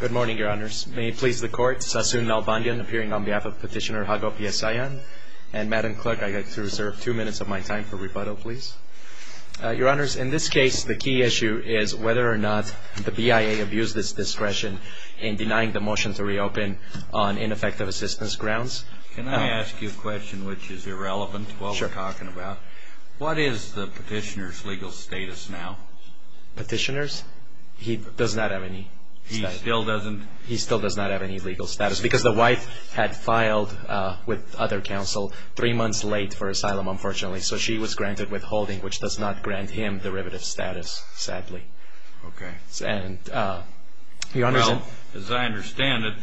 Good morning, Your Honors. May it please the Court, Sassoon Nalbandian appearing on behalf of Petitioner Hago P. Haysayan, and Madam Clerk, I'd like to reserve two minutes of my time for rebuttal, please. Your Honors, in this case, the key issue is whether or not the BIA abused its discretion in denying the motion to reopen on ineffective assistance grounds. Can I ask you a question which is irrelevant to what we're talking about? Sure. What is the Petitioner's legal status now? Petitioner's? He does not have any status. He still doesn't? He still does not have any legal status because the wife had filed with other counsel three months late for asylum, unfortunately, so she was granted withholding, which does not grant him derivative status, sadly. Okay. Well, as I understand it,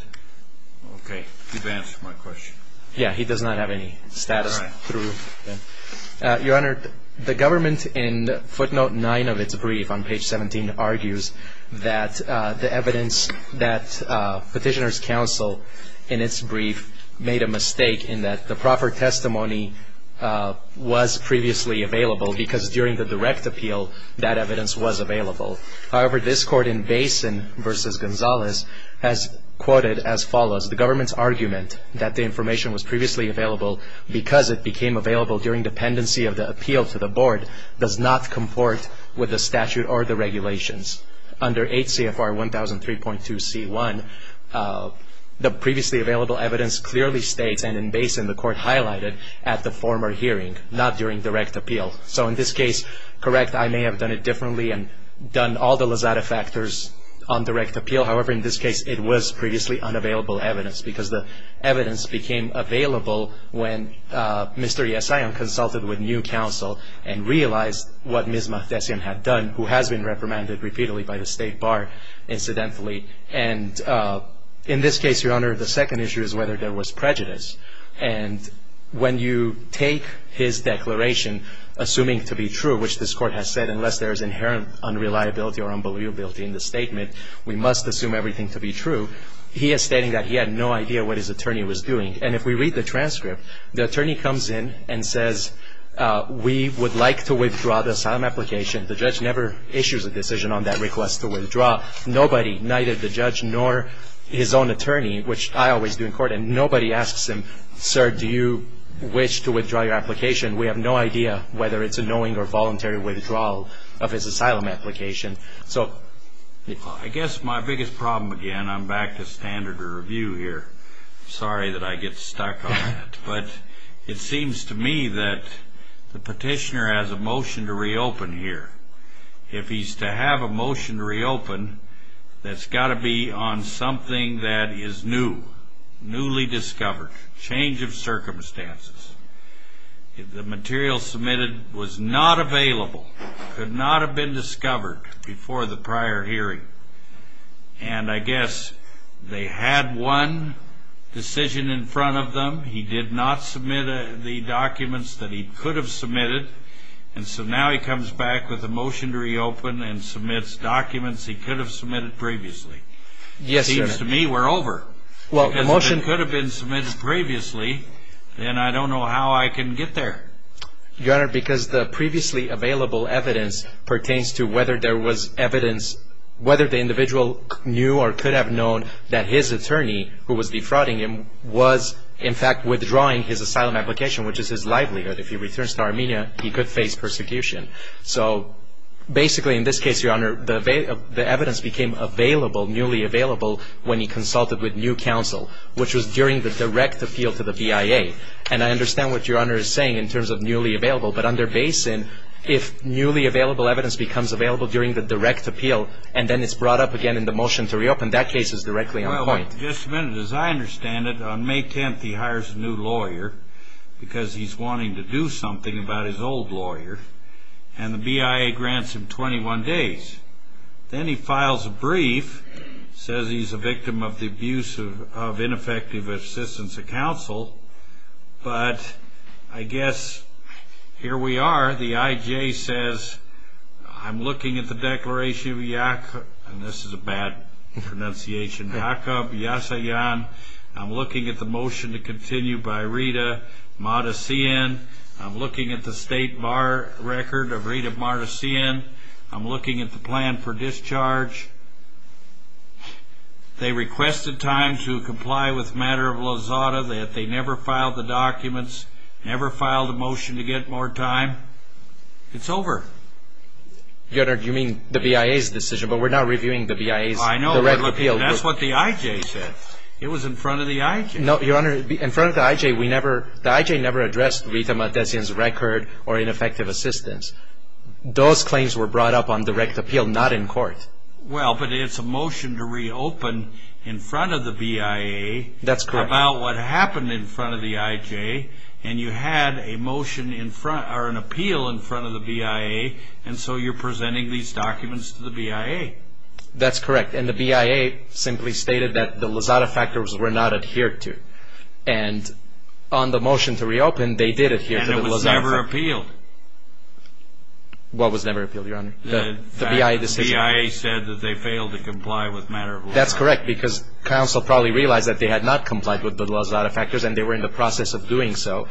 okay, you've answered my question. Yeah, he does not have any status. All right. Your Honor, the government in footnote 9 of its brief on page 17 argues that the evidence that Petitioner's counsel in its brief made a mistake in that the proper testimony was previously available because during the direct appeal, that evidence was available. However, this Court in Basin v. Gonzalez has quoted as follows, the government's argument that the information was previously available because it became available during dependency of the appeal to the Board does not comport with the statute or the regulations. Under HCFR 1003.2c1, the previously available evidence clearly states and in Basin, the Court highlighted at the former hearing, not during direct appeal. So in this case, correct, I may have done it differently and done all the lazada factors on direct appeal. However, in this case, it was previously unavailable evidence because the evidence became available when Mr. Yesayan consulted with new counsel and realized what Ms. Mahdessian had done, who has been reprimanded repeatedly by the State Bar incidentally. And in this case, Your Honor, the second issue is whether there was prejudice. And when you take his declaration, assuming to be true, which this Court has said, unless there is inherent unreliability or unbelievability in the statement, we must assume everything to be true. He is stating that he had no idea what his attorney was doing. And if we read the transcript, the attorney comes in and says, we would like to withdraw the asylum application. The judge never issues a decision on that request to withdraw. Nobody, neither the judge nor his own attorney, which I always do in court, and nobody asks him, sir, do you wish to withdraw your application? We have no idea whether it's a knowing or voluntary withdrawal of his asylum application. So I guess my biggest problem again, I'm back to standard review here. Sorry that I get stuck on that. But it seems to me that the petitioner has a motion to reopen here. If he's to have a motion to reopen, that's got to be on something that is new, newly discovered, change of circumstances. The material submitted was not available, could not have been discovered before the prior hearing. And I guess they had one decision in front of them. He did not submit the documents that he could have submitted. And so now he comes back with a motion to reopen and submits documents he could have submitted previously. Yes, sir. It seems to me we're over. If the motion could have been submitted previously, then I don't know how I can get there. Your Honor, because the previously available evidence pertains to whether there was evidence, whether the individual knew or could have known that his attorney, who was defrauding him, was in fact withdrawing his asylum application, which is his livelihood. If he returns to Armenia, he could face persecution. So basically in this case, Your Honor, the evidence became available, newly available, when he consulted with new counsel, which was during the direct appeal to the BIA. And I understand what Your Honor is saying in terms of newly available. But under Basin, if newly available evidence becomes available during the direct appeal and then it's brought up again in the motion to reopen, that case is directly on point. Well, just a minute. As I understand it, on May 10th, he hires a new lawyer because he's wanting to do something about his old lawyer. And the BIA grants him 21 days. Then he files a brief, says he's a victim of the abuse of ineffective assistance of counsel. But I guess here we are. The IJ says, I'm looking at the declaration of Yakov Yasayan. I'm looking at the motion to continue by Rita Mardasian. I'm looking at the state bar record of Rita Mardasian. I'm looking at the plan for discharge. They requested time to comply with matter of Lozada, that they never filed the documents, never filed a motion to get more time. It's over. Your Honor, you mean the BIA's decision, but we're not reviewing the BIA's direct appeal. I know, but that's what the IJ said. It was in front of the IJ. No, Your Honor, in front of the IJ, the IJ never addressed Rita Mardasian's record or ineffective assistance. Those claims were brought up on direct appeal, not in court. Well, but it's a motion to reopen in front of the BIA. That's correct. About what happened in front of the IJ, and you had a motion in front, or an appeal in front of the BIA, and so you're presenting these documents to the BIA. That's correct. And the BIA simply stated that the Lozada factors were not adhered to. And on the motion to reopen, they did adhere to the Lozada factors. And it was never appealed. What was never appealed, Your Honor? The BIA decision. The BIA said that they failed to comply with matter of Lozada. That's correct, because counsel probably realized that they had not complied with the Lozada factors, and they were in the process of doing so.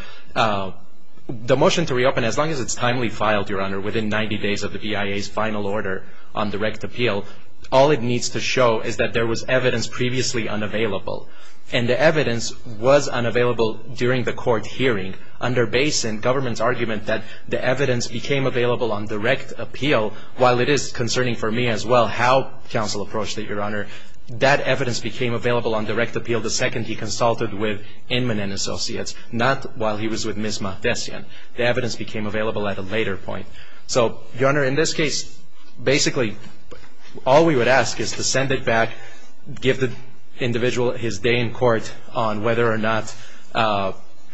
The motion to reopen, as long as it's timely filed, Your Honor, within 90 days of the BIA's final order on direct appeal, all it needs to show is that there was evidence previously unavailable. And the evidence was unavailable during the court hearing, under Basin, government's argument that the evidence became available on direct appeal, while it is concerning for me as well how counsel approached it, Your Honor. That evidence became available on direct appeal the second he consulted with Inman and Associates, not while he was with Ms. Matesian. The evidence became available at a later point. So, Your Honor, in this case, basically, all we would ask is to send it back, give the individual his day in court on whether or not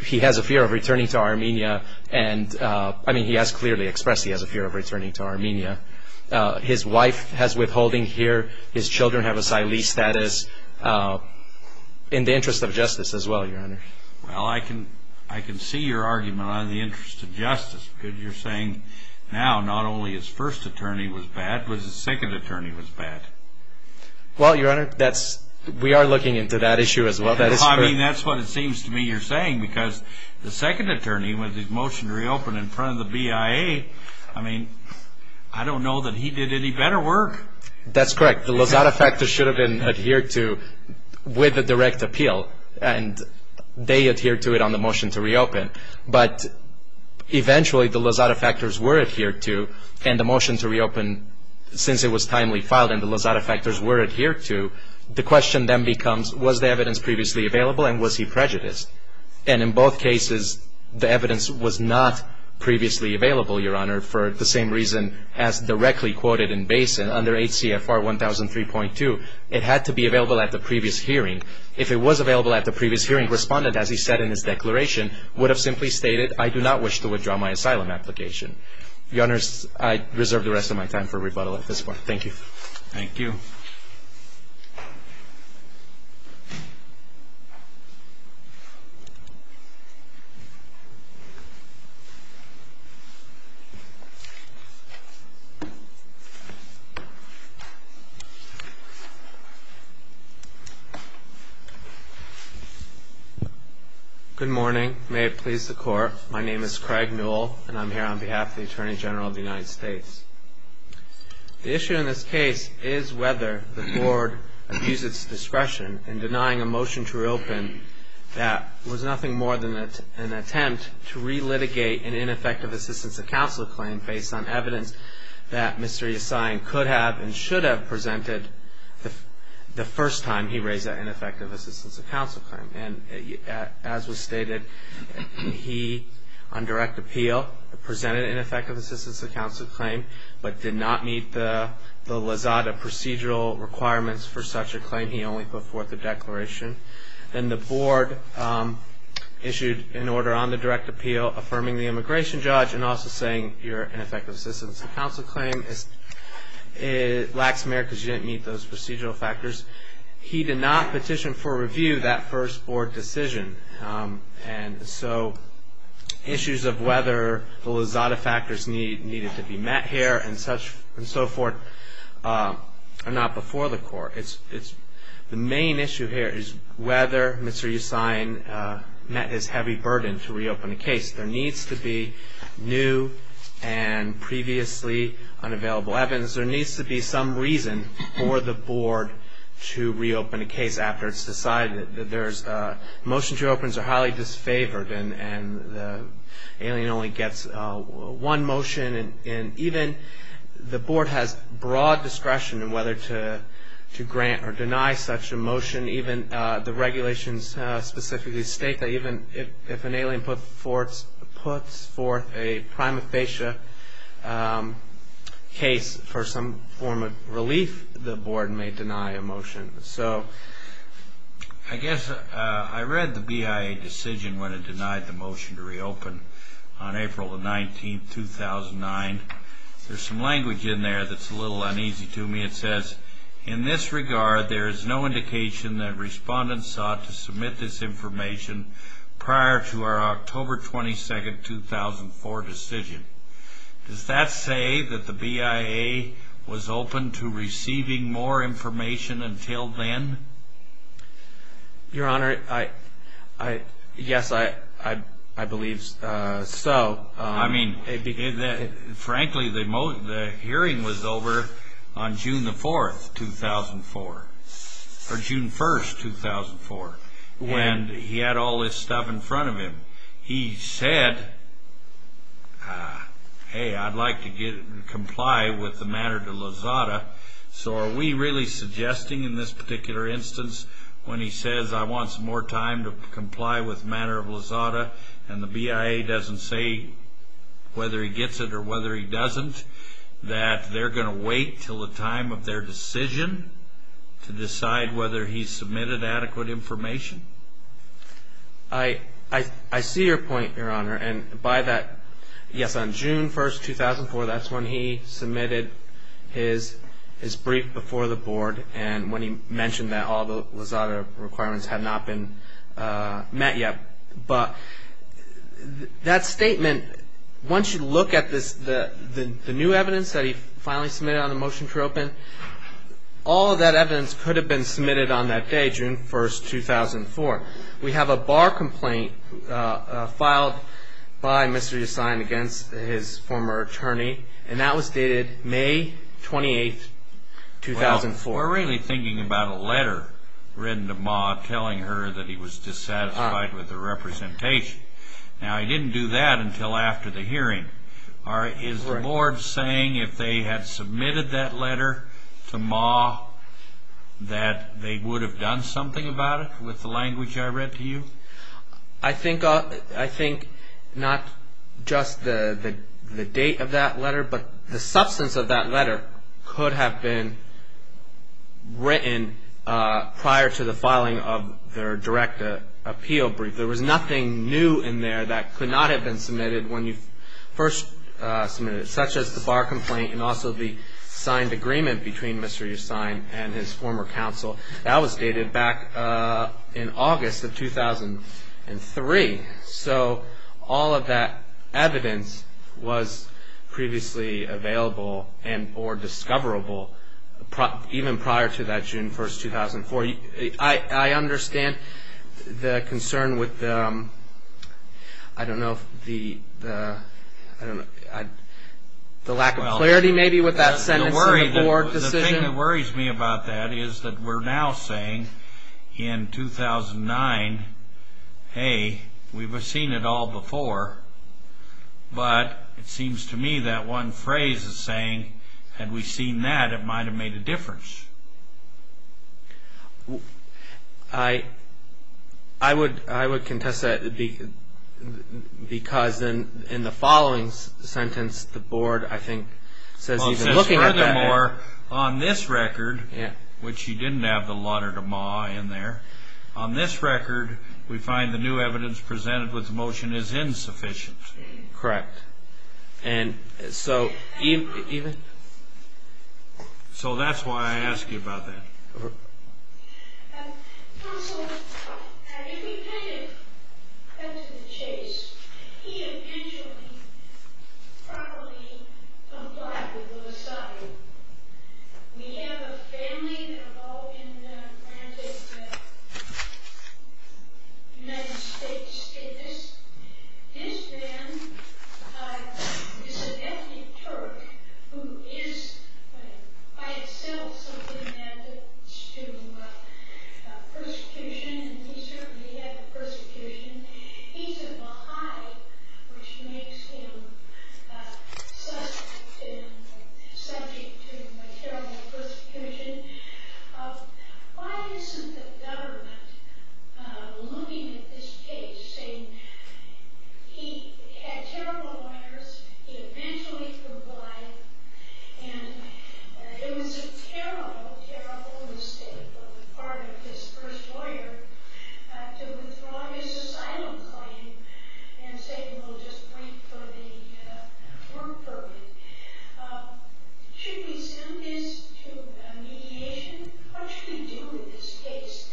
he has a fear of returning to Armenia. And, I mean, he has clearly expressed he has a fear of returning to Armenia. His wife has withholding here. His children have a SILES status. In the interest of justice as well, Your Honor. Well, I can see your argument on the interest of justice, because you're saying now not only his first attorney was bad, but his second attorney was bad. Well, Your Honor, that's, we are looking into that issue as well. Well, I mean, that's what it seems to me you're saying, because the second attorney, with his motion to reopen in front of the BIA, I mean, I don't know that he did any better work. That's correct. The Lozada factors should have been adhered to with a direct appeal, and they adhered to it on the motion to reopen. But, eventually, the Lozada factors were adhered to, and the motion to reopen, since it was timely filed and the Lozada factors were adhered to, the question then becomes, was the evidence previously available, and was he prejudiced? And in both cases, the evidence was not previously available, Your Honor, for the same reason as directly quoted in Basin under HCFR 1003.2. It had to be available at the previous hearing. If it was available at the previous hearing, the respondent, as he said in his declaration, would have simply stated, I do not wish to withdraw my asylum application. Your Honor, I reserve the rest of my time for rebuttal at this point. Thank you. Thank you. Good morning. May it please the Court, my name is Craig Newell, and I'm here on behalf of the Attorney General of the United States. The issue in this case is whether the Board abused its discretion in denying a motion to reopen that was nothing more than an attempt to re-litigate an ineffective assistance of counsel claim based on evidence that Mr. Yassine could have and should have presented the first time he raised that ineffective assistance of counsel claim. And as was stated, he, on direct appeal, presented an ineffective assistance of counsel claim but did not meet the LAZADA procedural requirements for such a claim. He only put forth a declaration. Then the Board issued an order on the direct appeal affirming the immigration judge and also saying you're an ineffective assistance of counsel claim. It lacks merit because you didn't meet those procedural factors. He did not petition for review that first Board decision. And so issues of whether the LAZADA factors needed to be met here and so forth are not before the Court. The main issue here is whether Mr. Yassine met his heavy burden to reopen a case. There needs to be new and previously unavailable evidence. There needs to be some reason for the Board to reopen a case after it's decided that there's a motion to reopen is highly disfavored and the alien only gets one motion. And even the Board has broad discretion in whether to grant or deny such a motion. Even the regulations specifically state that even if an alien puts forth a prima facie case for some form of relief, the Board may deny a motion. So I guess I read the BIA decision when it denied the motion to reopen on April the 19th 2009. There's some language in there that's a little uneasy to me. It says, in this regard, there is no indication that respondents sought to submit this information prior to our October 22nd 2004 decision. Does that say that the BIA was open to receiving more information until then? Your Honor, yes, I believe so. I mean, frankly, the hearing was over on June the 4th 2004, or June 1st 2004. And he had all this stuff in front of him. He said, hey, I'd like to comply with the matter to Lozada, so are we really suggesting in this particular instance, when he says, I want some more time to comply with the matter of Lozada, and the BIA doesn't say whether he gets it or whether he doesn't, that they're going to wait until the time of their decision to decide whether he's submitted adequate information? I see your point, Your Honor. And by that, yes, on June 1st 2004, that's when he submitted his brief before the Board, and when he mentioned that all the Lozada requirements had not been met yet. But that statement, once you look at the new evidence that he finally submitted on the motion to reopen, all of that evidence could have been submitted on that day, June 1st 2004. We have a bar complaint filed by Mr. Yassine against his former attorney, and that was dated May 28th 2004. We're really thinking about a letter written to Ma telling her that he was dissatisfied with the representation. Now, he didn't do that until after the hearing. Is the Board saying if they had submitted that letter to Ma that they would have done something about it with the language I read to you? I think not just the date of that letter, but the substance of that letter could have been written prior to the filing of their direct appeal brief. There was nothing new in there that could not have been submitted when you first submitted it, such as the bar complaint and also the signed agreement between Mr. Yassine and his former counsel. That was dated back in August of 2003. So all of that evidence was previously available and or discoverable even prior to that June 1st 2004. I understand the concern with the lack of clarity maybe with that sentence in the Board decision. The thing that worries me about that is that we're now saying in 2009, hey, we've seen it all before, but it seems to me that one phrase is saying, had we seen that, it might have made a difference. I would contest that because in the following sentence, the Board, I think, says even looking at the record, which you didn't have the letter to Ma in there, on this record, we find the new evidence presented with the motion is insufficient. So that's why I ask you about that. Counsel, if we kind of cut to the chase, he eventually probably complied with the society. We have a family that are all in the Atlantic, the United States, and this man is an ethnic Turk who is by itself something that leads to persecution, and he certainly had the persecution. He's a Baha'i, which makes him subject to terrible persecution. Why isn't the government looking at this case, saying he had terrible lawyers, he eventually complied, and it was a terrible, terrible mistake on the part of his first lawyer to withdraw his asylum claim and say, well, just wait for the work permit. Should we send this to mediation? What should we do with this case?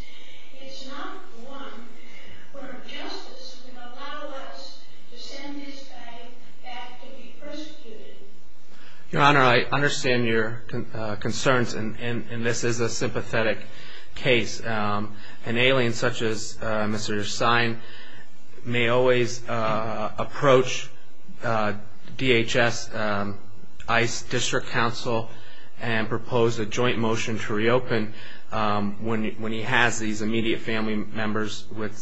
It's not one where justice will allow us to send this guy back to be persecuted. Your Honor, I understand your concerns, and this is a sympathetic case. An alien such as Mr. Sine may always approach DHS ICE District Counsel and propose a joint mediation. As these immediate family members with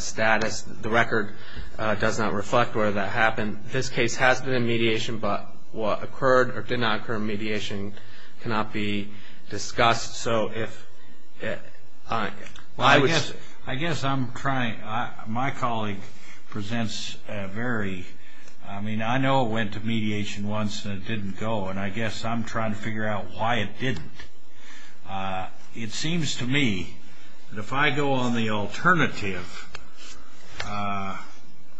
status, the record does not reflect where that happened. This case has been in mediation, but what occurred or did not occur in mediation cannot be discussed. I guess I'm trying, my colleague presents a very, I mean, I know it went to mediation once and it didn't go, and I guess I'm trying to figure out why it didn't. It seems to me that if I go on the alternative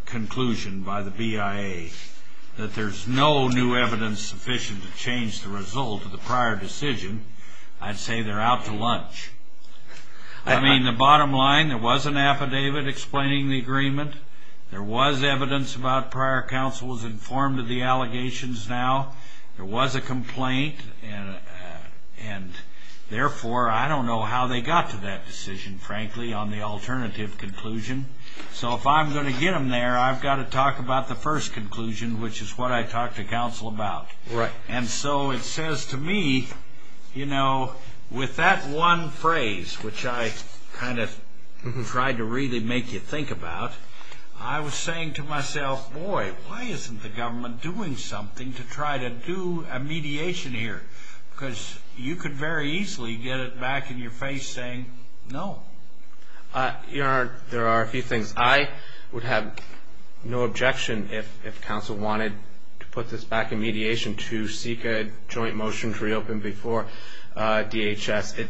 conclusion by the BIA that there's no new evidence sufficient to change the result of the prior decision, I'd say they're out to lunch. I mean, the bottom line, there was an affidavit explaining the agreement. There was evidence about prior counsel was informed of the allegations now. There was a complaint, and therefore, I don't know how they got to that decision, frankly, on the alternative conclusion. So, if I'm going to get them there, I've got to talk about the first conclusion, which is what I talked to counsel about. Right. And so, it says to me, you know, with that one phrase, which I kind of tried to really make you think about, I was saying to myself, boy, why isn't the government doing something to try to do a mediation here? Because you could very easily get it back in your face saying no. Your Honor, there are a few things. I would have no objection if counsel wanted to put this back in mediation to seek a joint motion to reopen before DHS.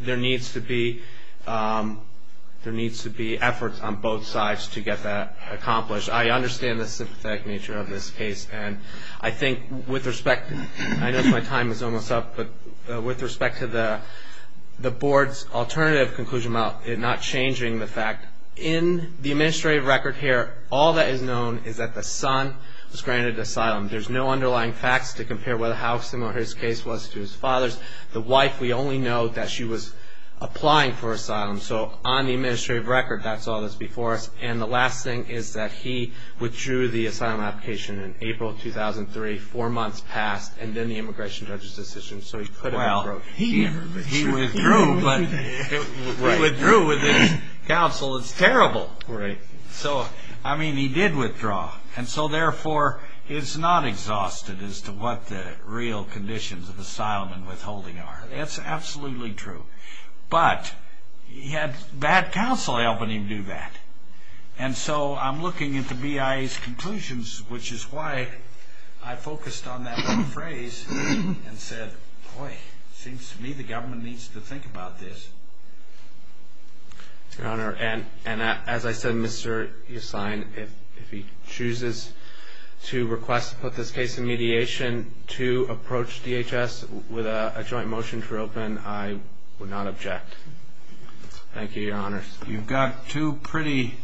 There needs to be efforts on both sides to get that accomplished. I understand the sympathetic nature of this case, and I think with respect, I know my time is almost up, but with respect to the board's alternative conclusion, not changing the fact, in the administrative record here, all that is known is that the son was granted asylum. There's no underlying facts to compare how similar his case was to his father's. The wife, we only know that she was applying for asylum. So, on the administrative record, that's all that's before us. And the last thing is that he withdrew the asylum application in April 2003. Four months passed, and then the immigration judge's decision, so he could have... Well, he withdrew, but he withdrew with his counsel. It's terrible. Right. So, I mean, he did withdraw, and so, therefore, it's not exhausted as to what the real conditions of asylum and withholding are. That's absolutely true. But he had bad counsel helping him do that. And so, I'm looking at the BIA's conclusions, which is why I focused on that one phrase and said, boy, it seems to me the government needs to think about this. Your Honor, and as I said, Mr. Yassine, if he chooses to request to put this case in I do not object. Thank you, Your Honor. You've got two pretty,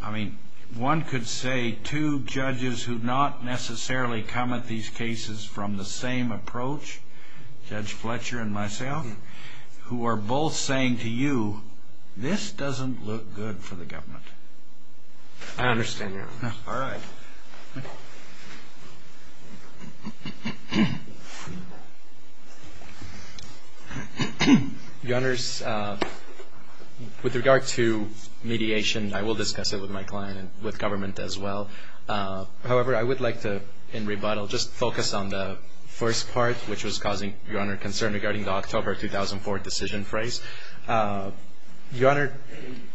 I mean, one could say two judges who not necessarily comment these cases from the same approach, Judge Fletcher and myself, who are both saying to you, this doesn't look good for the government. I understand, Your Honor. All right. Your Honors, with regard to mediation, I will discuss it with my client and with government as well. However, I would like to, in rebuttal, just focus on the first part, which was causing, Your Honor, concern regarding the October 2004 decision phrase. Your Honor,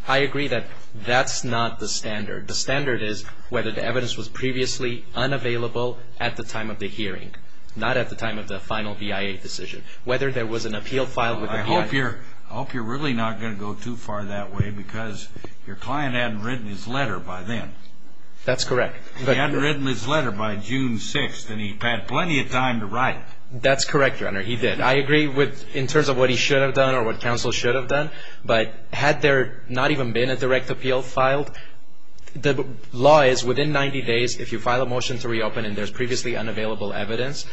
I agree that that's not the standard. The standard is whether the evidence was previously unavailable at the time of the hearing, not at the time of the final BIA decision. Whether there was an appeal filed with the BIA. Well, I hope you're really not going to go too far that way because your client hadn't written his letter by then. That's correct. He hadn't written his letter by June 6th and he had plenty of time to write it. That's correct, Your Honor. He did. I agree in terms of what he should have done or what counsel should have done. But had there not even been a direct appeal filed, the law is within 90 days if you file a motion to reopen and there's previously unavailable evidence,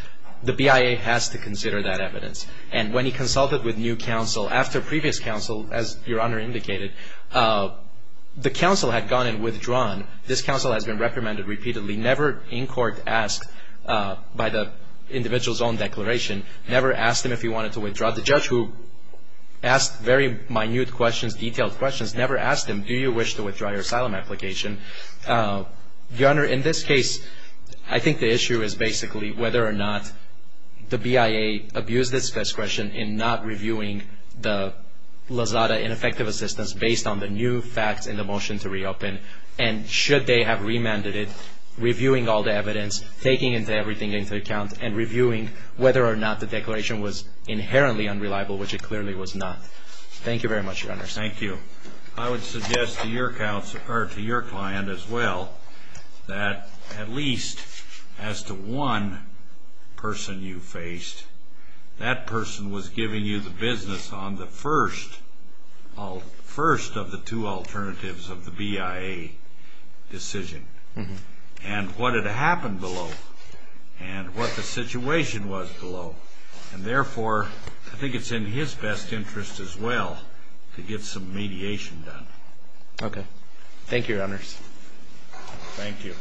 the BIA has to consider that evidence. And when he consulted with new counsel, after previous counsel, as Your Honor indicated, the counsel had gone and withdrawn. This counsel has been reprimanded repeatedly, never in court asked by the individual's own declaration, never asked him if he wanted to withdraw. The judge who asked very minute questions, detailed questions, never asked him, do you wish to withdraw your asylum application? Your Honor, in this case, I think the issue is basically whether or not the BIA abused its discretion in not reviewing the Lozada ineffective assistance based on the new facts in the motion to reopen and should they have remanded it, reviewing all the evidence, taking everything into account and reviewing whether or not the declaration was inherently unreliable, which it clearly was not. Thank you very much, Your Honor. Thank you. I would suggest to your client as well that at least as to one person you faced, that person was giving you the business on the first of the two alternatives of the BIA decision and what had happened below and what the situation was below. And therefore, I think it's in his best interest as well to get some mediation done. Okay. Thank you, Your Honors. Thank you.